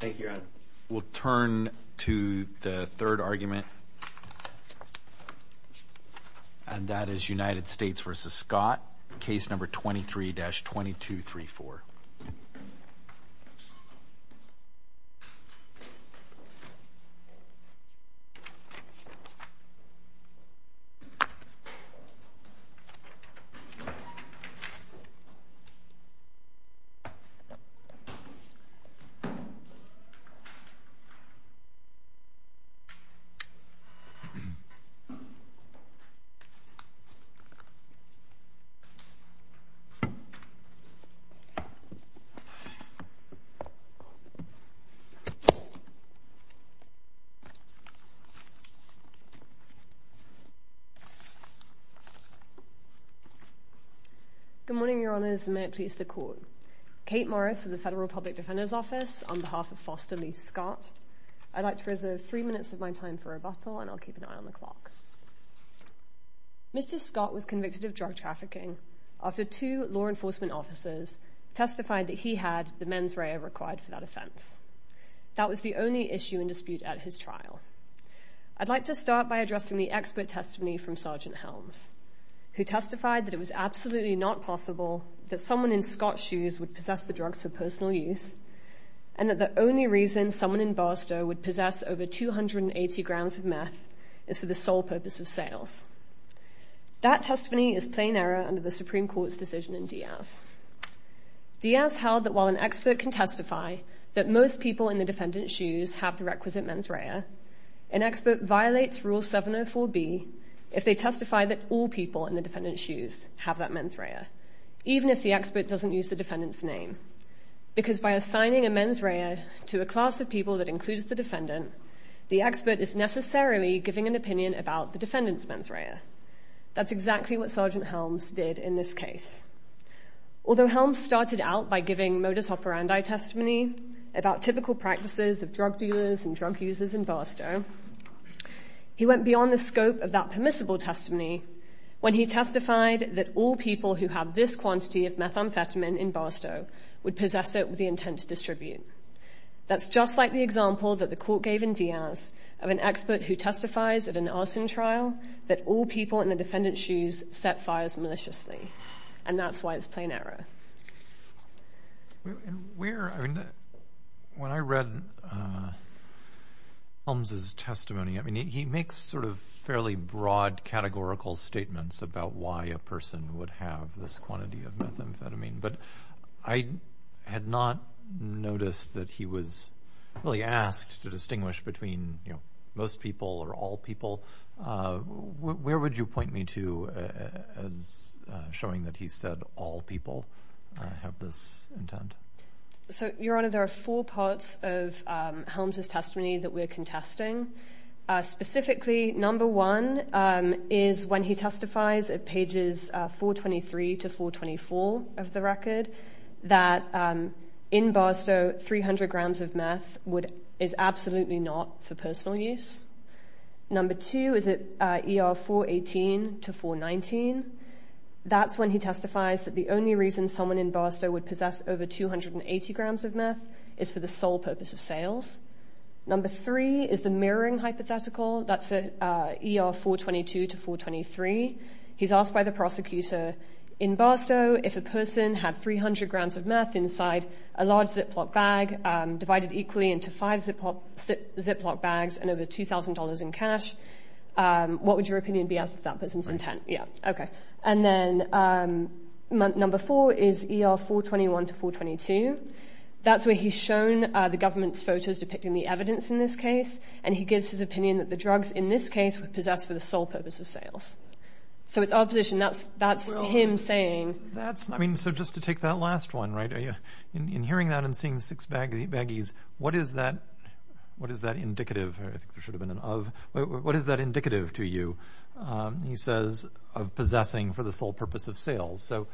Thank you. We'll turn to the third argument, and that is United States v. Scott, case number 23-2234. Good morning, Your Honors, and may it please the Court. Kate Morris of the Federal Public Defender's Office, on behalf of Foster Lee Scott, I'd like to reserve three minutes of my time for rebuttal, and I'll keep an eye on the clock. Mr. Scott was convicted of drug trafficking after two law enforcement officers testified that he had the mens rea required for that offense. That was the only issue in dispute at his trial. I'd like to start by addressing the expert testimony from Sergeant Helms, who testified that it was absolutely not possible that someone in Scott's shoes would possess the drugs for personal use, and that the only reason someone in Barstow would possess over 280 grams of meth is for the sole purpose of sales. That testimony is plain error under the Supreme Court's decision in Diaz. Diaz held that while an expert can testify that most people in the defendant's shoes have the requisite mens rea, an expert violates Rule 704B if they testify that all people in the defendant's shoes have that mens rea, even if the expert doesn't use the defendant's name. Because by assigning a mens rea to a class of people that includes the defendant, the expert is necessarily giving an opinion about the defendant's mens rea. That's exactly what Sergeant Helms did in this case. Although Helms started out by giving modus operandi testimony about typical practices of drug dealers and drug users in Barstow, he went beyond the scope of that permissible testimony when he testified that all people who have this quantity of methamphetamine in Barstow would possess it with the intent to distribute. That's just like the example that the court gave in Diaz of an expert who testifies at an arson trial that all people in the defendant's shoes set fires maliciously, and that's why it's plain error. When I read Helms' testimony, he makes sort of fairly broad categorical statements about why a person would have this quantity of methamphetamine, but I had not noticed that he was really asked to distinguish between most people or all people. Where would you point me to as showing that he said all people have this intent? Your Honor, there are four parts of Helms' testimony that we're contesting. Specifically, number one is when he testifies at pages 423 to 424 of the record that in Barstow, 300 grams of meth is absolutely not for personal use. Number two is at ER 418 to 419. That's when he testifies that the only reason someone in Barstow would possess over 280 grams of meth is for the sole purpose of sales. Number three is the mirroring hypothetical. That's at ER 422 to 423. He's asked by the prosecutor in Barstow if a person had 300 grams of meth inside a large Ziploc bag divided equally into five Ziploc bags and over $2,000 in cash. What would your opinion be as to that person's intent? Yeah, okay. And then number four is ER 421 to 422. That's where he's shown the government's photos depicting the evidence in this case, and he gives his opinion that the drugs in this case were possessed for the sole purpose of sales. So it's opposition. That's him saying... I mean, so just to take that last one, right? In hearing that and seeing the six baggies, what is that indicative? I think there should have been an of. What is that indicative to you, he says, of possessing for the sole purpose of sales? So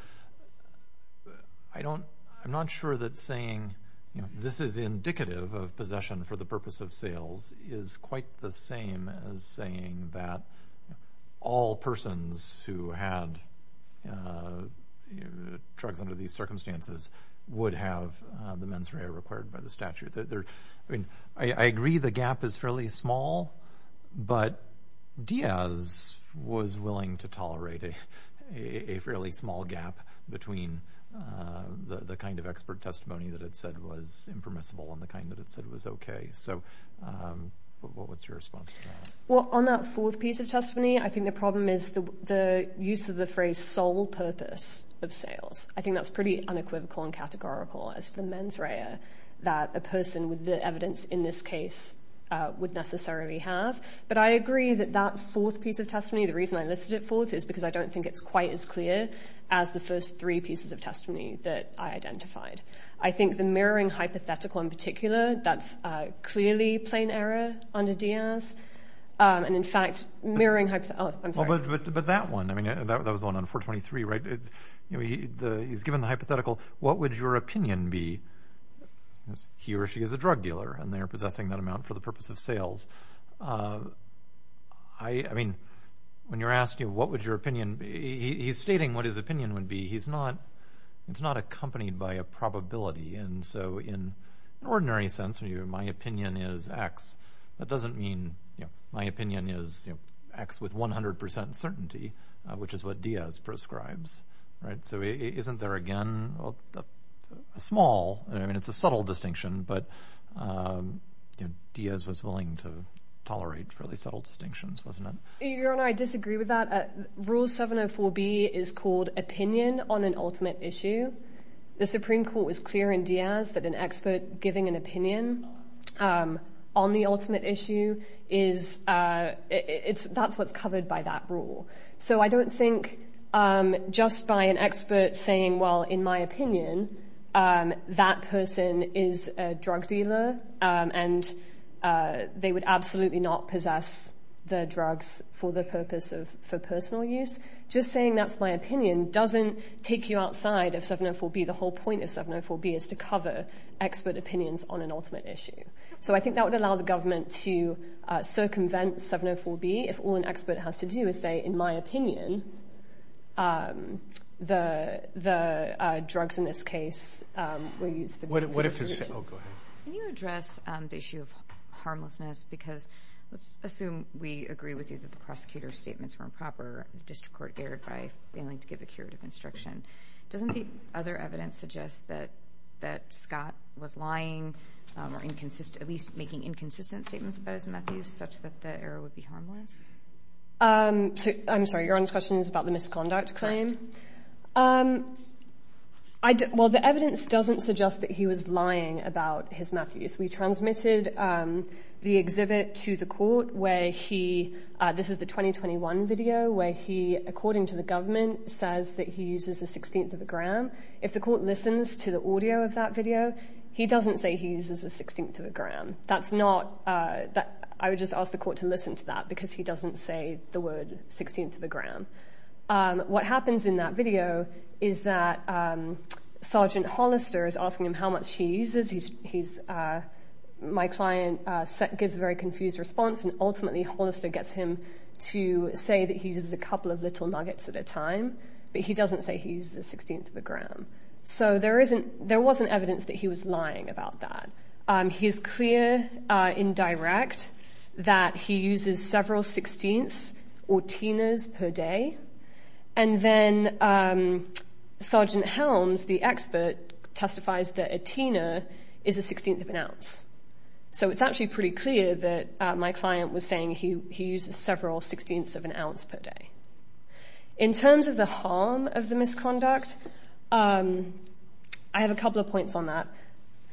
I don't... I'm not sure that saying this is indicative of possession for the purpose of sales is quite the same as saying that all persons who had drugs under these circumstances would have the mens rea required by the statute. I mean, I agree the gap is fairly small, but Diaz was willing to tolerate a fairly small gap between the kind of expert testimony that it said was impermissible and the kind that it said was okay. So what's your response to that? Well, on that fourth piece of testimony, I think the problem is the use of the phrase sole purpose of sales. I think that's pretty unequivocal and categorical as the mens rea that a person with the evidence in this case would necessarily have. But I agree that that fourth piece of testimony, the reason I listed it fourth, is because I don't think it's quite as clear as the first three pieces of testimony that I identified. I think the mirroring hypothetical in particular, that's clearly plain error under Diaz, and in fact mirroring... But that one, I mean, that was on 423, right? He's given the hypothetical, what would your opinion be? He or she is a drug dealer and they're possessing that amount for the purpose of sales. I mean, when you're asking what would your opinion be, he's stating what his opinion would be. It's not accompanied by a probability, and so in an ordinary sense, my opinion is X. That doesn't mean my opinion is X with 100% certainty, which is what Diaz prescribes, right? So isn't there again a small, I mean, it's a subtle distinction, but Diaz was willing to tolerate really subtle distinctions, wasn't it? Your Honor, I disagree with that. Rule 704B is called opinion on an ultimate issue. The Supreme Court was clear in Diaz that an expert giving an opinion on the ultimate issue, that's what's covered by that rule. So I don't think just by an expert saying, well, in my opinion, that person is a drug dealer and they would absolutely not possess the drugs for the purpose of personal use. Just saying that's my opinion doesn't take you outside of 704B. The whole point of 704B is to cover expert opinions on an ultimate issue. So I think that would allow the government to circumvent 704B if all an expert has to do is say, in my opinion, the drugs in this case were used for the purpose of personal use. Can you address the issue of harmlessness? Because let's assume we agree with you that the prosecutor's argument is more improper and the district court erred by failing to give a curative instruction. Doesn't the other evidence suggest that Scott was lying or at least making inconsistent statements about his meth use such that the error would be harmless? I'm sorry, Your Honor's question is about the misconduct claim? Well, the evidence doesn't suggest that he was lying about his meth use. We transmitted the exhibit to the court where he, this is the 2021 video, where he, according to the government, says that he uses a sixteenth of a gram. If the court listens to the audio of that video, he doesn't say he uses a sixteenth of a gram. That's not, I would just ask the court to listen to that because he doesn't say the word sixteenth of a gram. What happens in that video is that Sergeant Hollister is asking him how much he uses. My client gives a very confused response and ultimately Hollister gets him to say that he uses a couple of little nuggets at a time, but he doesn't say he uses a sixteenth of a gram. So there wasn't evidence that he was lying about that. He's clear in direct that he uses several sixteenths or teners per day, and then Sergeant Helms, the expert, testifies that a tener is a sixteenth of an ounce. So it's actually pretty clear that my client was saying he uses several sixteenths of an ounce per day. In terms of the harm of the misconduct, I have a couple of points on that.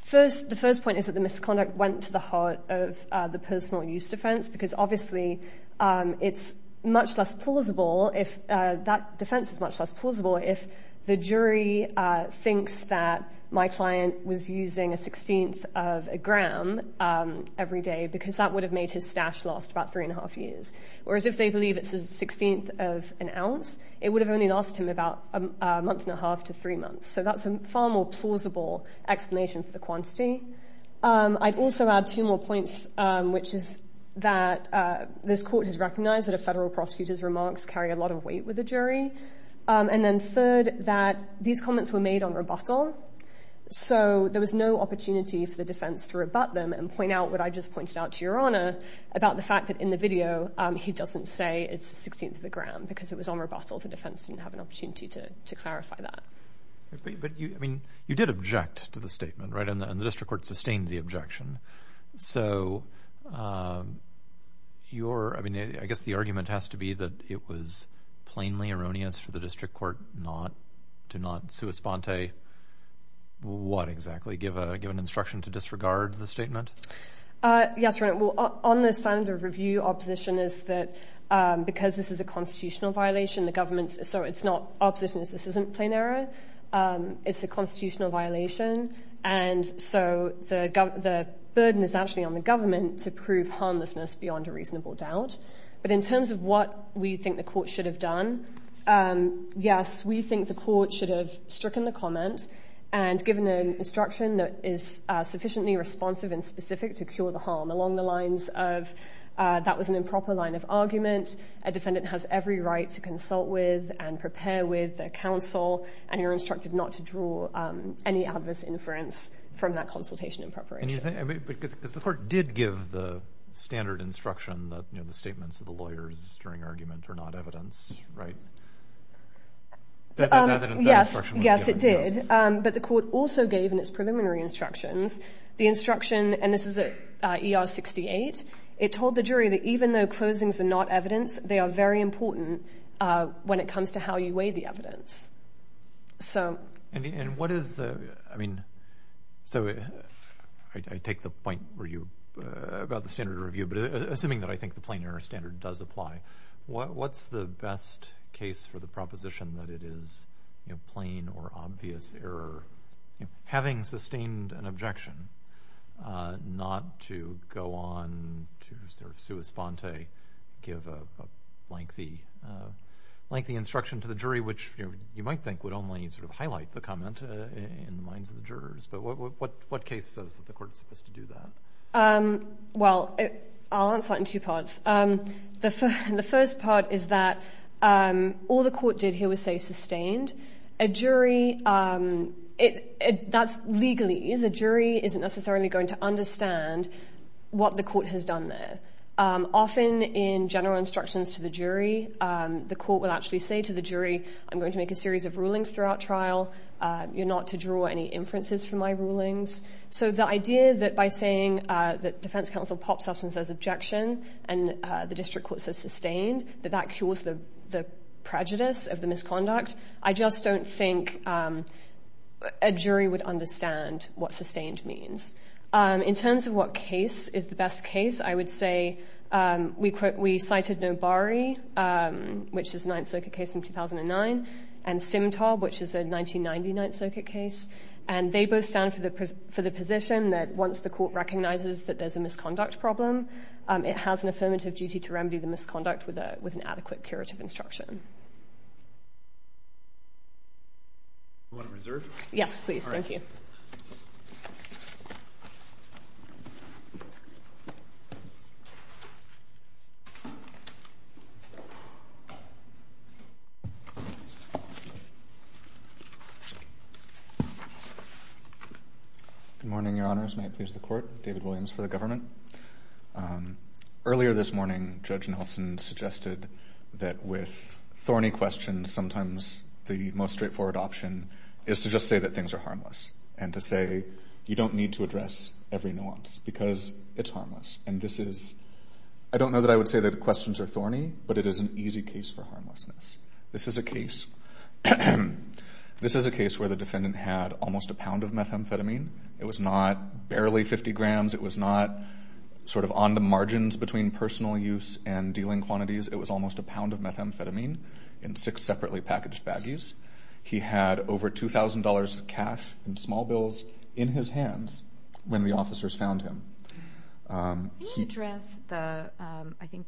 The first point is that the misconduct went to the heart of the personal use defense because obviously it's much less plausible, that defense is much less plausible if the jury thinks that my client was using a sixteenth of a gram every day because that would have made his stash last about three and a half years. Whereas if they believe it's a sixteenth of an ounce, it would have only lasted him about a month and a half to three months. So that's a far more plausible explanation for the quantity. I'd also add two more points, which is that this court has recognized that a federal prosecutor's remarks carry a lot of weight with the jury. And then third, that these comments were made on rebuttal, so there was no opportunity for the defense to rebut them and point out what I just pointed out to your Honor about the fact that in the video he doesn't say it's a sixteenth of a gram because it was on rebuttal. The defense didn't have an opportunity to clarify that. But you did object to the statement, right? And the district court sustained the objection. So I guess the argument has to be that it was plainly erroneous for the district court to not sua sponte what exactly? Give an instruction to disregard the statement? Yes, Your Honor. Well, on the standard of review, our position is that because this is a constitutional violation, the government's so it's not our position is this isn't plain error. It's a constitutional violation. And so the burden is actually on the government to prove harmlessness beyond a reasonable doubt. But in terms of what we think the court should have done, yes, we think the court should have stricken the comment and given an instruction that is sufficiently responsive and specific to cure the harm along the lines of that was an improper line of argument. A defendant has every right to consult with and prepare with a counsel, and you're instructed not to draw any adverse inference from that consultation in preparation. Because the court did give the standard instruction that the statements of the lawyers during argument are not evidence, right? Yes, yes, it did. But the court also gave in its preliminary instructions the instruction, and this is a E.R. 68. It told the jury that even though closings are not evidence, they are very important when it comes to how you weigh the evidence. So and what is I mean, so I take the point where you about the standard review, but assuming that I think the plain error standard does apply, what's the best case for the proposition that it is a plain or obvious error, having sustained an objection, not to go on to sort of sua sponte, give a lengthy, lengthy instruction to the jury, which you might think would only sort of highlight the comment in the minds of the jurors. But what what what case says that the court is supposed to do that? Well, I'll answer that in two parts. The first part is that all the court did here was say sustained. A jury, that's legally is a jury isn't necessarily going to understand what the court has done there. Often in general instructions to the jury, the court will actually say to the jury, I'm going to make a series of rulings throughout trial. You're not to draw any inferences from my rulings. So the idea that by saying that defense counsel pops up and says objection and the district court says sustained, that that cures the prejudice of the misconduct. I just don't think a jury would understand what sustained means. In terms of what case is the best case, I would say we cited Nobari, which is a Ninth Circuit case from 2009, and Simtob, which is a 1990 Ninth Circuit case. And they both stand for the position that once the court recognizes that there's a misconduct problem, it has an affirmative duty to remedy the misconduct with an adequate curative instruction. You want to reserve? Yes, please. Thank you. Good morning, Your Honors. May it please the court. David Williams for the government. Earlier this morning, Judge Nelson suggested that with thorny questions, sometimes the most straightforward option is to just say that things are harmless and to say you don't need to address every nuance because it's harmless. And this is, I don't know that I would say that questions are thorny, but it is an easy case for harmlessness. This is a case where the defendant had almost a pound of methamphetamine. It was not barely 50 grams. It was not sort of on the margins between personal use and dealing quantities. It was almost a pound of methamphetamine in six separately packaged baggies. He had over $2,000 cash in small bills in his hands when the officers found him. May I address the, I think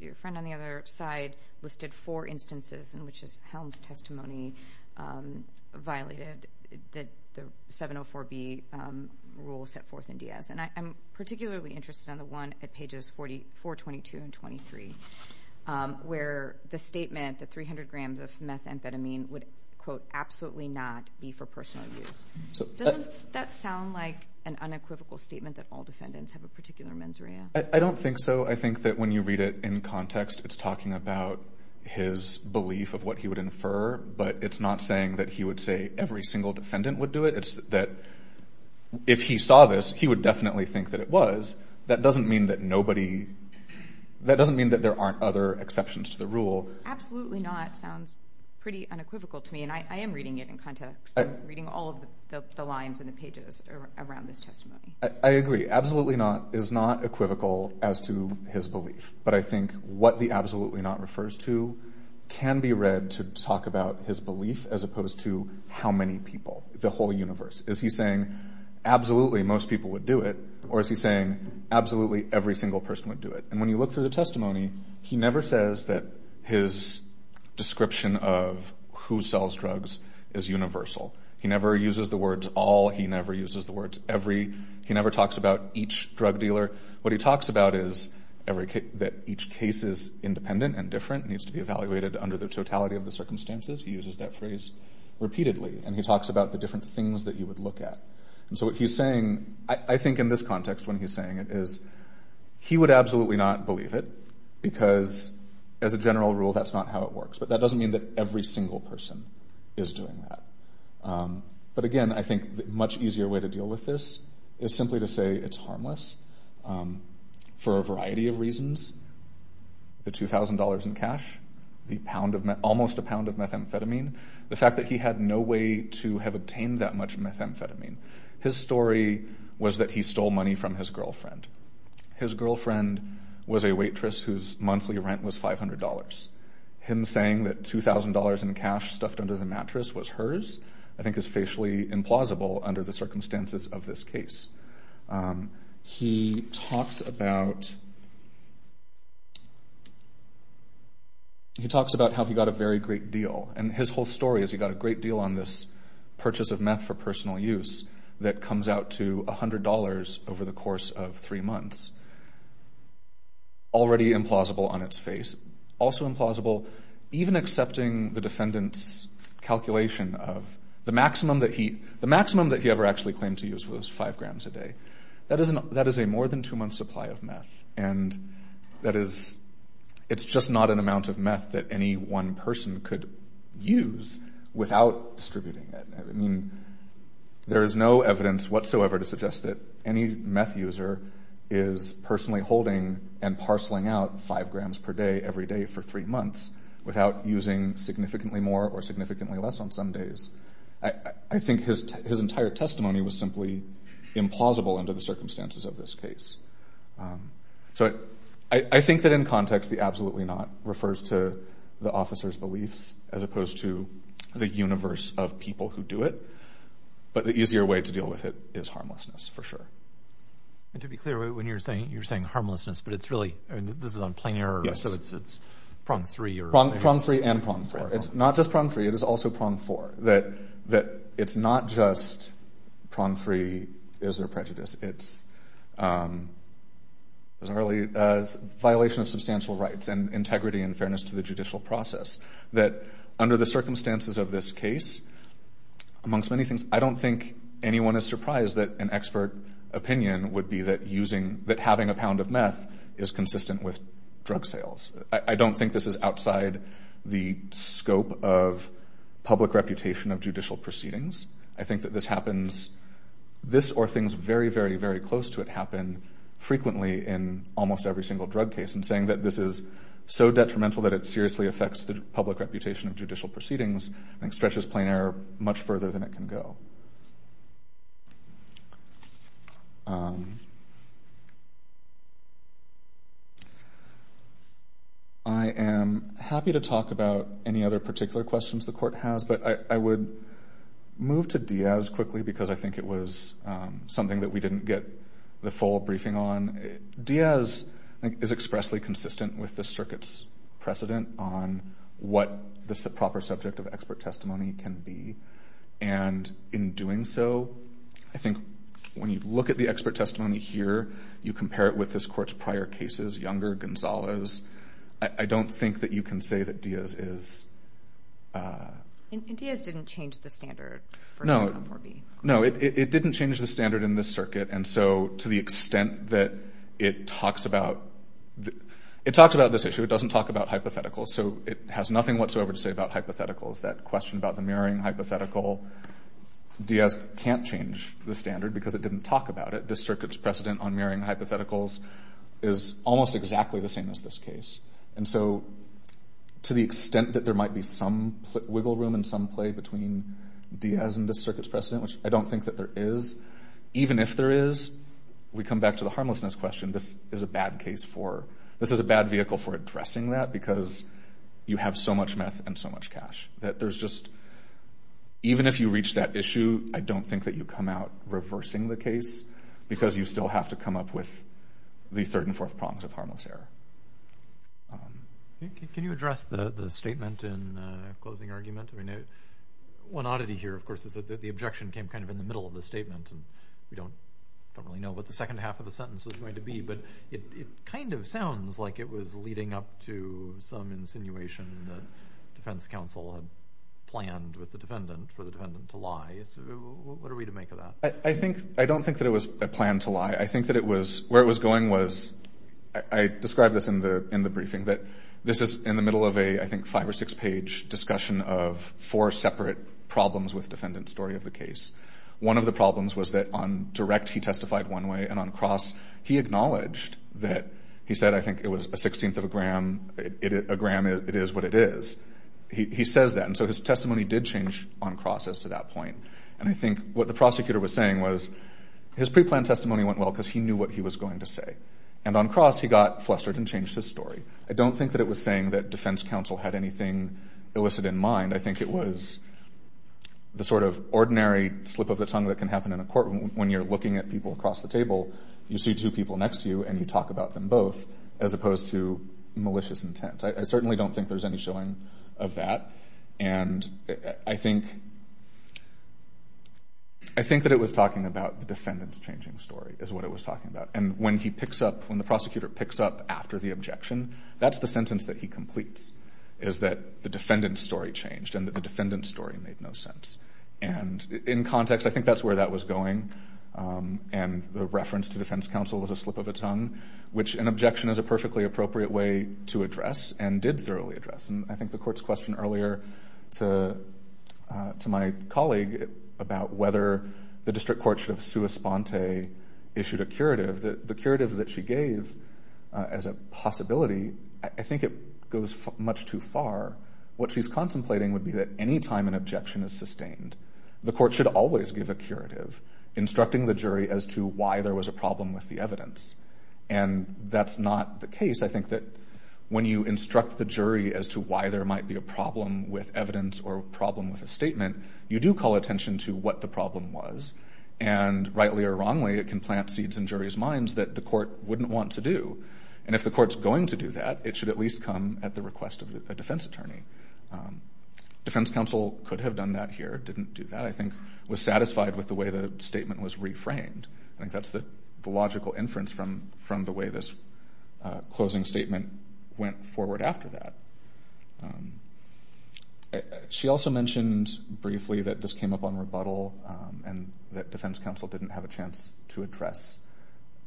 your friend on the other side listed four instances in which his testimony violated the 704B rule set forth in Diaz. And I'm particularly interested in the one at pages 422 and 423, where the statement that 300 grams of methamphetamine would, quote, absolutely not be for personal use. Doesn't that sound like an unequivocal statement that all defendants have a particular mens rea? I don't think so. I think that when you read it in context, it's talking about his belief of what he would infer, but it's not saying that he would say every single defendant would do it. It's that if he saw this, he would definitely think that it was. That doesn't mean that nobody, that doesn't mean that there aren't other exceptions to the rule. Absolutely not sounds pretty unequivocal to me, and I am reading it in context. I'm reading all of the lines and the pages around this testimony. I agree. Absolutely not is not equivocal as to his belief. But I think what the absolutely not refers to can be read to talk about his belief as opposed to how many people, the whole universe. Is he saying absolutely most people would do it, or is he saying absolutely every single person would do it? And when you look through the testimony, he never says that his description of who sells drugs is universal. He never uses the words all. He never uses the words every. He never talks about each drug dealer. What he talks about is that each case is independent and different, needs to be evaluated under the totality of the circumstances. He uses that phrase repeatedly, and he talks about the different things that you would look at. And so what he's saying, I think in this context, when he's saying it is he would absolutely not believe it because as a general rule, that's not how it works. But that doesn't mean that every single person is doing that. But again, I think much easier way to deal with this is simply to say it's harmless for a variety of reasons. The $2,000 in cash, almost a pound of methamphetamine, the fact that he had no way to have obtained that much methamphetamine. His story was that he stole money from his girlfriend. His girlfriend was a waitress whose monthly rent was $500. Him saying that $2,000 in cash stuffed under the mattress was hers, I think is facially implausible under the circumstances of this case. He talks about how he got a very great deal, and his whole story is he got a great deal on this purchase of meth for personal use that comes out to $100 over the course of three months. Already implausible on its face. Also implausible even accepting the defendant's calculation of the maximum that he ever actually claimed to use was five grams a day. That is a more than two month supply of meth. And that is, it's just not an amount of meth that any one person could use without distributing it. I mean, there is no evidence whatsoever to suggest that any meth user is personally holding and parceling out five grams per day every day for three months without using significantly more or significantly less on some days. I think his entire testimony was simply implausible under the circumstances of this case. So I think that in context, the absolutely not refers to the officer's beliefs as opposed to the universe of people who do it. But the easier way to deal with it is harmlessness, for sure. And to be clear, when you're saying you're saying harmlessness, but it's really, this is on plain error, so it's it's prong three or prong three and prong four. It's not just prong three, it is also prong four, that it's not just prong three is their prejudice. It's a violation of substantial rights and integrity and fairness to the judicial process that under the circumstances of this case, amongst many things, I don't think anyone is surprised that an expert opinion would be that using that having a pound of meth is consistent with drug sales. I don't think this is outside the scope of public reputation of judicial proceedings. I think that this happens, this or things very, very, very close to it happen frequently in almost every single drug case. And saying that this is so detrimental that it seriously affects the public reputation of judicial proceedings, I think stretches plain error much further than it can go. I am happy to talk about any other particular questions the court has, but I would move to Diaz quickly because I think it was something that we didn't get the full briefing on. Diaz is expressly consistent with the circuit's precedent on what the proper subject of expert testimony can be. And in doing so, I think when you look at the expert testimony here, you compare it with this court's prior cases, Younger, Gonzalez. I don't think that you can say that Diaz is- And Diaz didn't change the standard for- No. No, it didn't change the standard in this circuit. And so to the extent that it talks about this issue, it doesn't talk about hypotheticals. So it has nothing whatsoever to say about hypotheticals. That question about the mirroring hypothetical, Diaz can't change the standard because it didn't talk about it. This circuit's precedent on mirroring hypotheticals is almost exactly the same as this case. And so to the extent that there might be some wiggle room and some play between Diaz and this circuit's precedent, which I don't think that there is, even if there is, we come back to the harmlessness question. This is a bad case for- This is a bad vehicle for addressing that because you have so much meth and so much cash that there's just- Even if you reach that issue, I don't think that you come out reversing the case because you still have to come up with the third and fourth prongs of harmless error. Can you address the statement in closing argument? One oddity here, of course, is that the objection came kind of in the middle of the statement and we don't really know what the second half of the sentence was going to be. But it kind of sounds like it was leading up to some insinuation that defense counsel had planned with the defendant for the defendant to lie. What are we to make of that? I think- I don't think that it was a plan to lie. I think that it was- Where it was going was- I described this in the briefing, that this is in the middle of a, I think, five or six page discussion of four separate problems with defendant's story of the case. One of the problems was that on direct, he testified one way and on cross, he acknowledged that he said, I think, it was a sixteenth of a gram. A gram, it is what it is. He says that and so his testimony did change on cross as to that point. And I think what the prosecutor was saying was his pre-planned testimony went well because he knew what he was going to say. And on cross, he got flustered and changed his story. I don't think that it was saying that defense counsel had anything illicit in mind. I think it was the sort of ordinary slip of the tongue that can happen in a courtroom when you're looking at people across the table. You see two people next to you and you talk about them both as opposed to malicious intent. I certainly don't think there's any showing of that. And I think that it was talking about the defendant's changing story is what it was talking about. And when he picks up, when the prosecutor picks up after the objection, that's the sentence that he completes, is that the defendant's story changed and that the defendant's story made no sense. And in context, I think that's where that was going and the reference to defense counsel was a slip of a tongue, which an objection is a perfectly appropriate way to address and did thoroughly address. And I think the court's question earlier to my colleague about whether the district court should have sua sponte issued a curative, the curative that she gave as a possibility, I think it goes much too far. What she's contemplating would be that any time an objection is sustained, the court should always give a curative, instructing the jury as to why there was a problem with the evidence. And that's not the case. I think that when you instruct the jury as to why there might be a problem with evidence or a problem with a statement, you do call attention to what the problem was. And rightly or wrongly, it can plant seeds in jury's minds that the court wouldn't want to do. And if the court's going to do that, it should at least come at the request of a defense attorney. Defense counsel could have done that here, didn't do that, I think, was satisfied with the way the statement was reframed. I think that's the logical inference from the way this closing statement went forward after that. She also mentioned briefly that this came up on rebuttal and that defense counsel didn't have a chance to address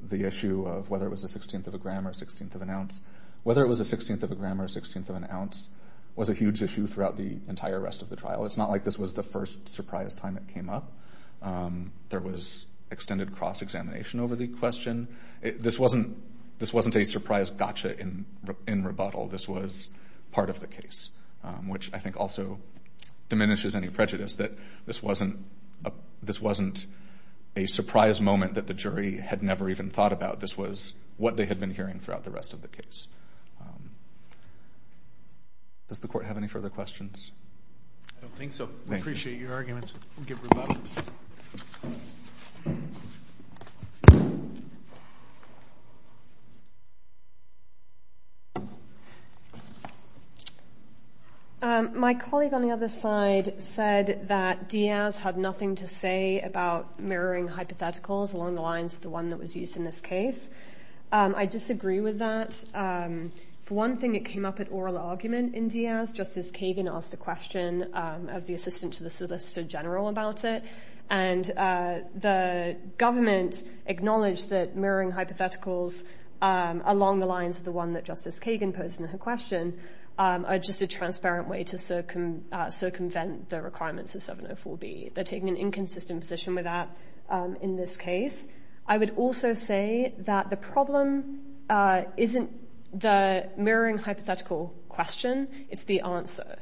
the issue of whether it was a 16th of a gram or a 16th of an ounce. Whether it was a 16th of a gram or a 16th of an ounce was a huge issue throughout the entire rest of the trial. It's not like this was the first surprise time it came up. There was extended cross-examination over the question. This wasn't a surprise gotcha in rebuttal. This was part of the case, which I think also diminishes any prejudice that this wasn't a surprise moment that the jury had never even thought about. This was what they had been hearing throughout the rest of the case. Does the court have any further questions? I don't think so. I appreciate your arguments. My colleague on the other side said that Diaz had nothing to say about mirroring hypotheticals along the lines of the one that was used in this case. I disagree with that. For one thing, it came up at oral argument in Diaz. Justice Kagan asked a question of the assistant to the solicitor general about it. The government acknowledged that mirroring hypotheticals along the lines of the one that Justice Kagan posed in her question are just a transparent way to circumvent the requirements of 704B. They're taking an inconsistent position with that in this case. I would also say that the problem isn't the mirroring hypothetical question. It's the answer.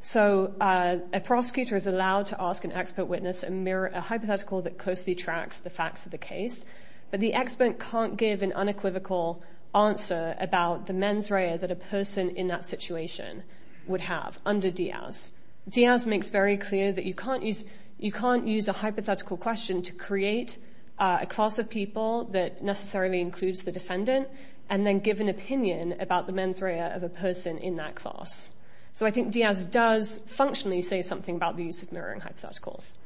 So a prosecutor is allowed to ask an expert witness a hypothetical that closely tracks the facts of the case, but the expert can't give an unequivocal answer about the mens rea that a person in that situation would have under Diaz. Diaz makes very clear that you can't use a hypothetical question to create a class of people that necessarily includes the defendant and then give an opinion about the mens rea of a person in that class. So I think Diaz does functionally say something about the use of mirroring hypotheticals.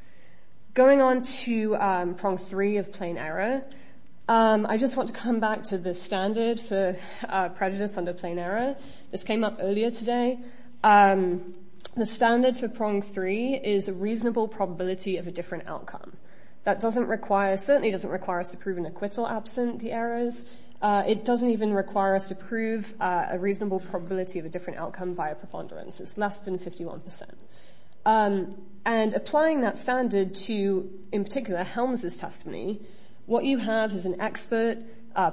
Going on to prong three of plain error. I just want to come back to the standard for prejudice under plain error. This came up earlier today. And the standard for prong three is a reasonable probability of a different outcome. That certainly doesn't require us to prove an acquittal absent the errors. It doesn't even require us to prove a reasonable probability of a different outcome by a preponderance. It's less than 51%. And applying that standard to, in particular, Helms' testimony, what you have is an expert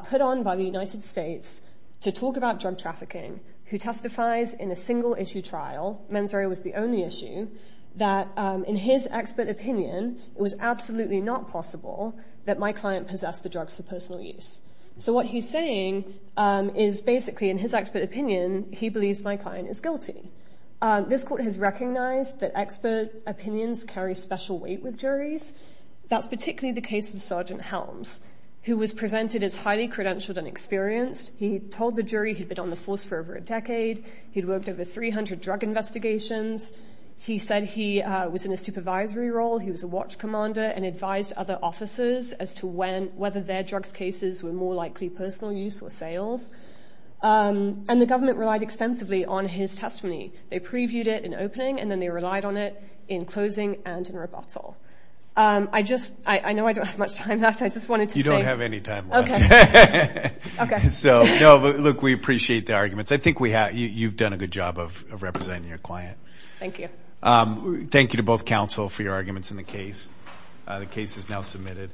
put on by the United States to talk about drug trafficking who testifies in a single issue trial, mens rea was the only issue, that in his expert opinion, it was absolutely not possible that my client possessed the drugs for personal use. So what he's saying is basically in his expert opinion, he believes my client is guilty. This court has recognized that expert opinions carry special weight with juries. That's particularly the case with Sergeant Helms, who was presented as highly credentialed and experienced. He told the jury he'd been on the force for over a decade. He'd worked over 300 drug investigations. He said he was in a supervisory role. He was a watch commander and advised other officers as to whether their drugs cases were more likely personal use or sales. And the government relied extensively on his testimony. They previewed it in opening and then they relied on it in closing and in rebuttal. I just, I know I don't have much time left. I just wanted to say. You don't have any time left. Okay, okay. So no, look, we appreciate the arguments. I think we have, you've done a good job of representing your client. Thank you. Thank you to both counsel for your arguments in the case. The case is now submitted.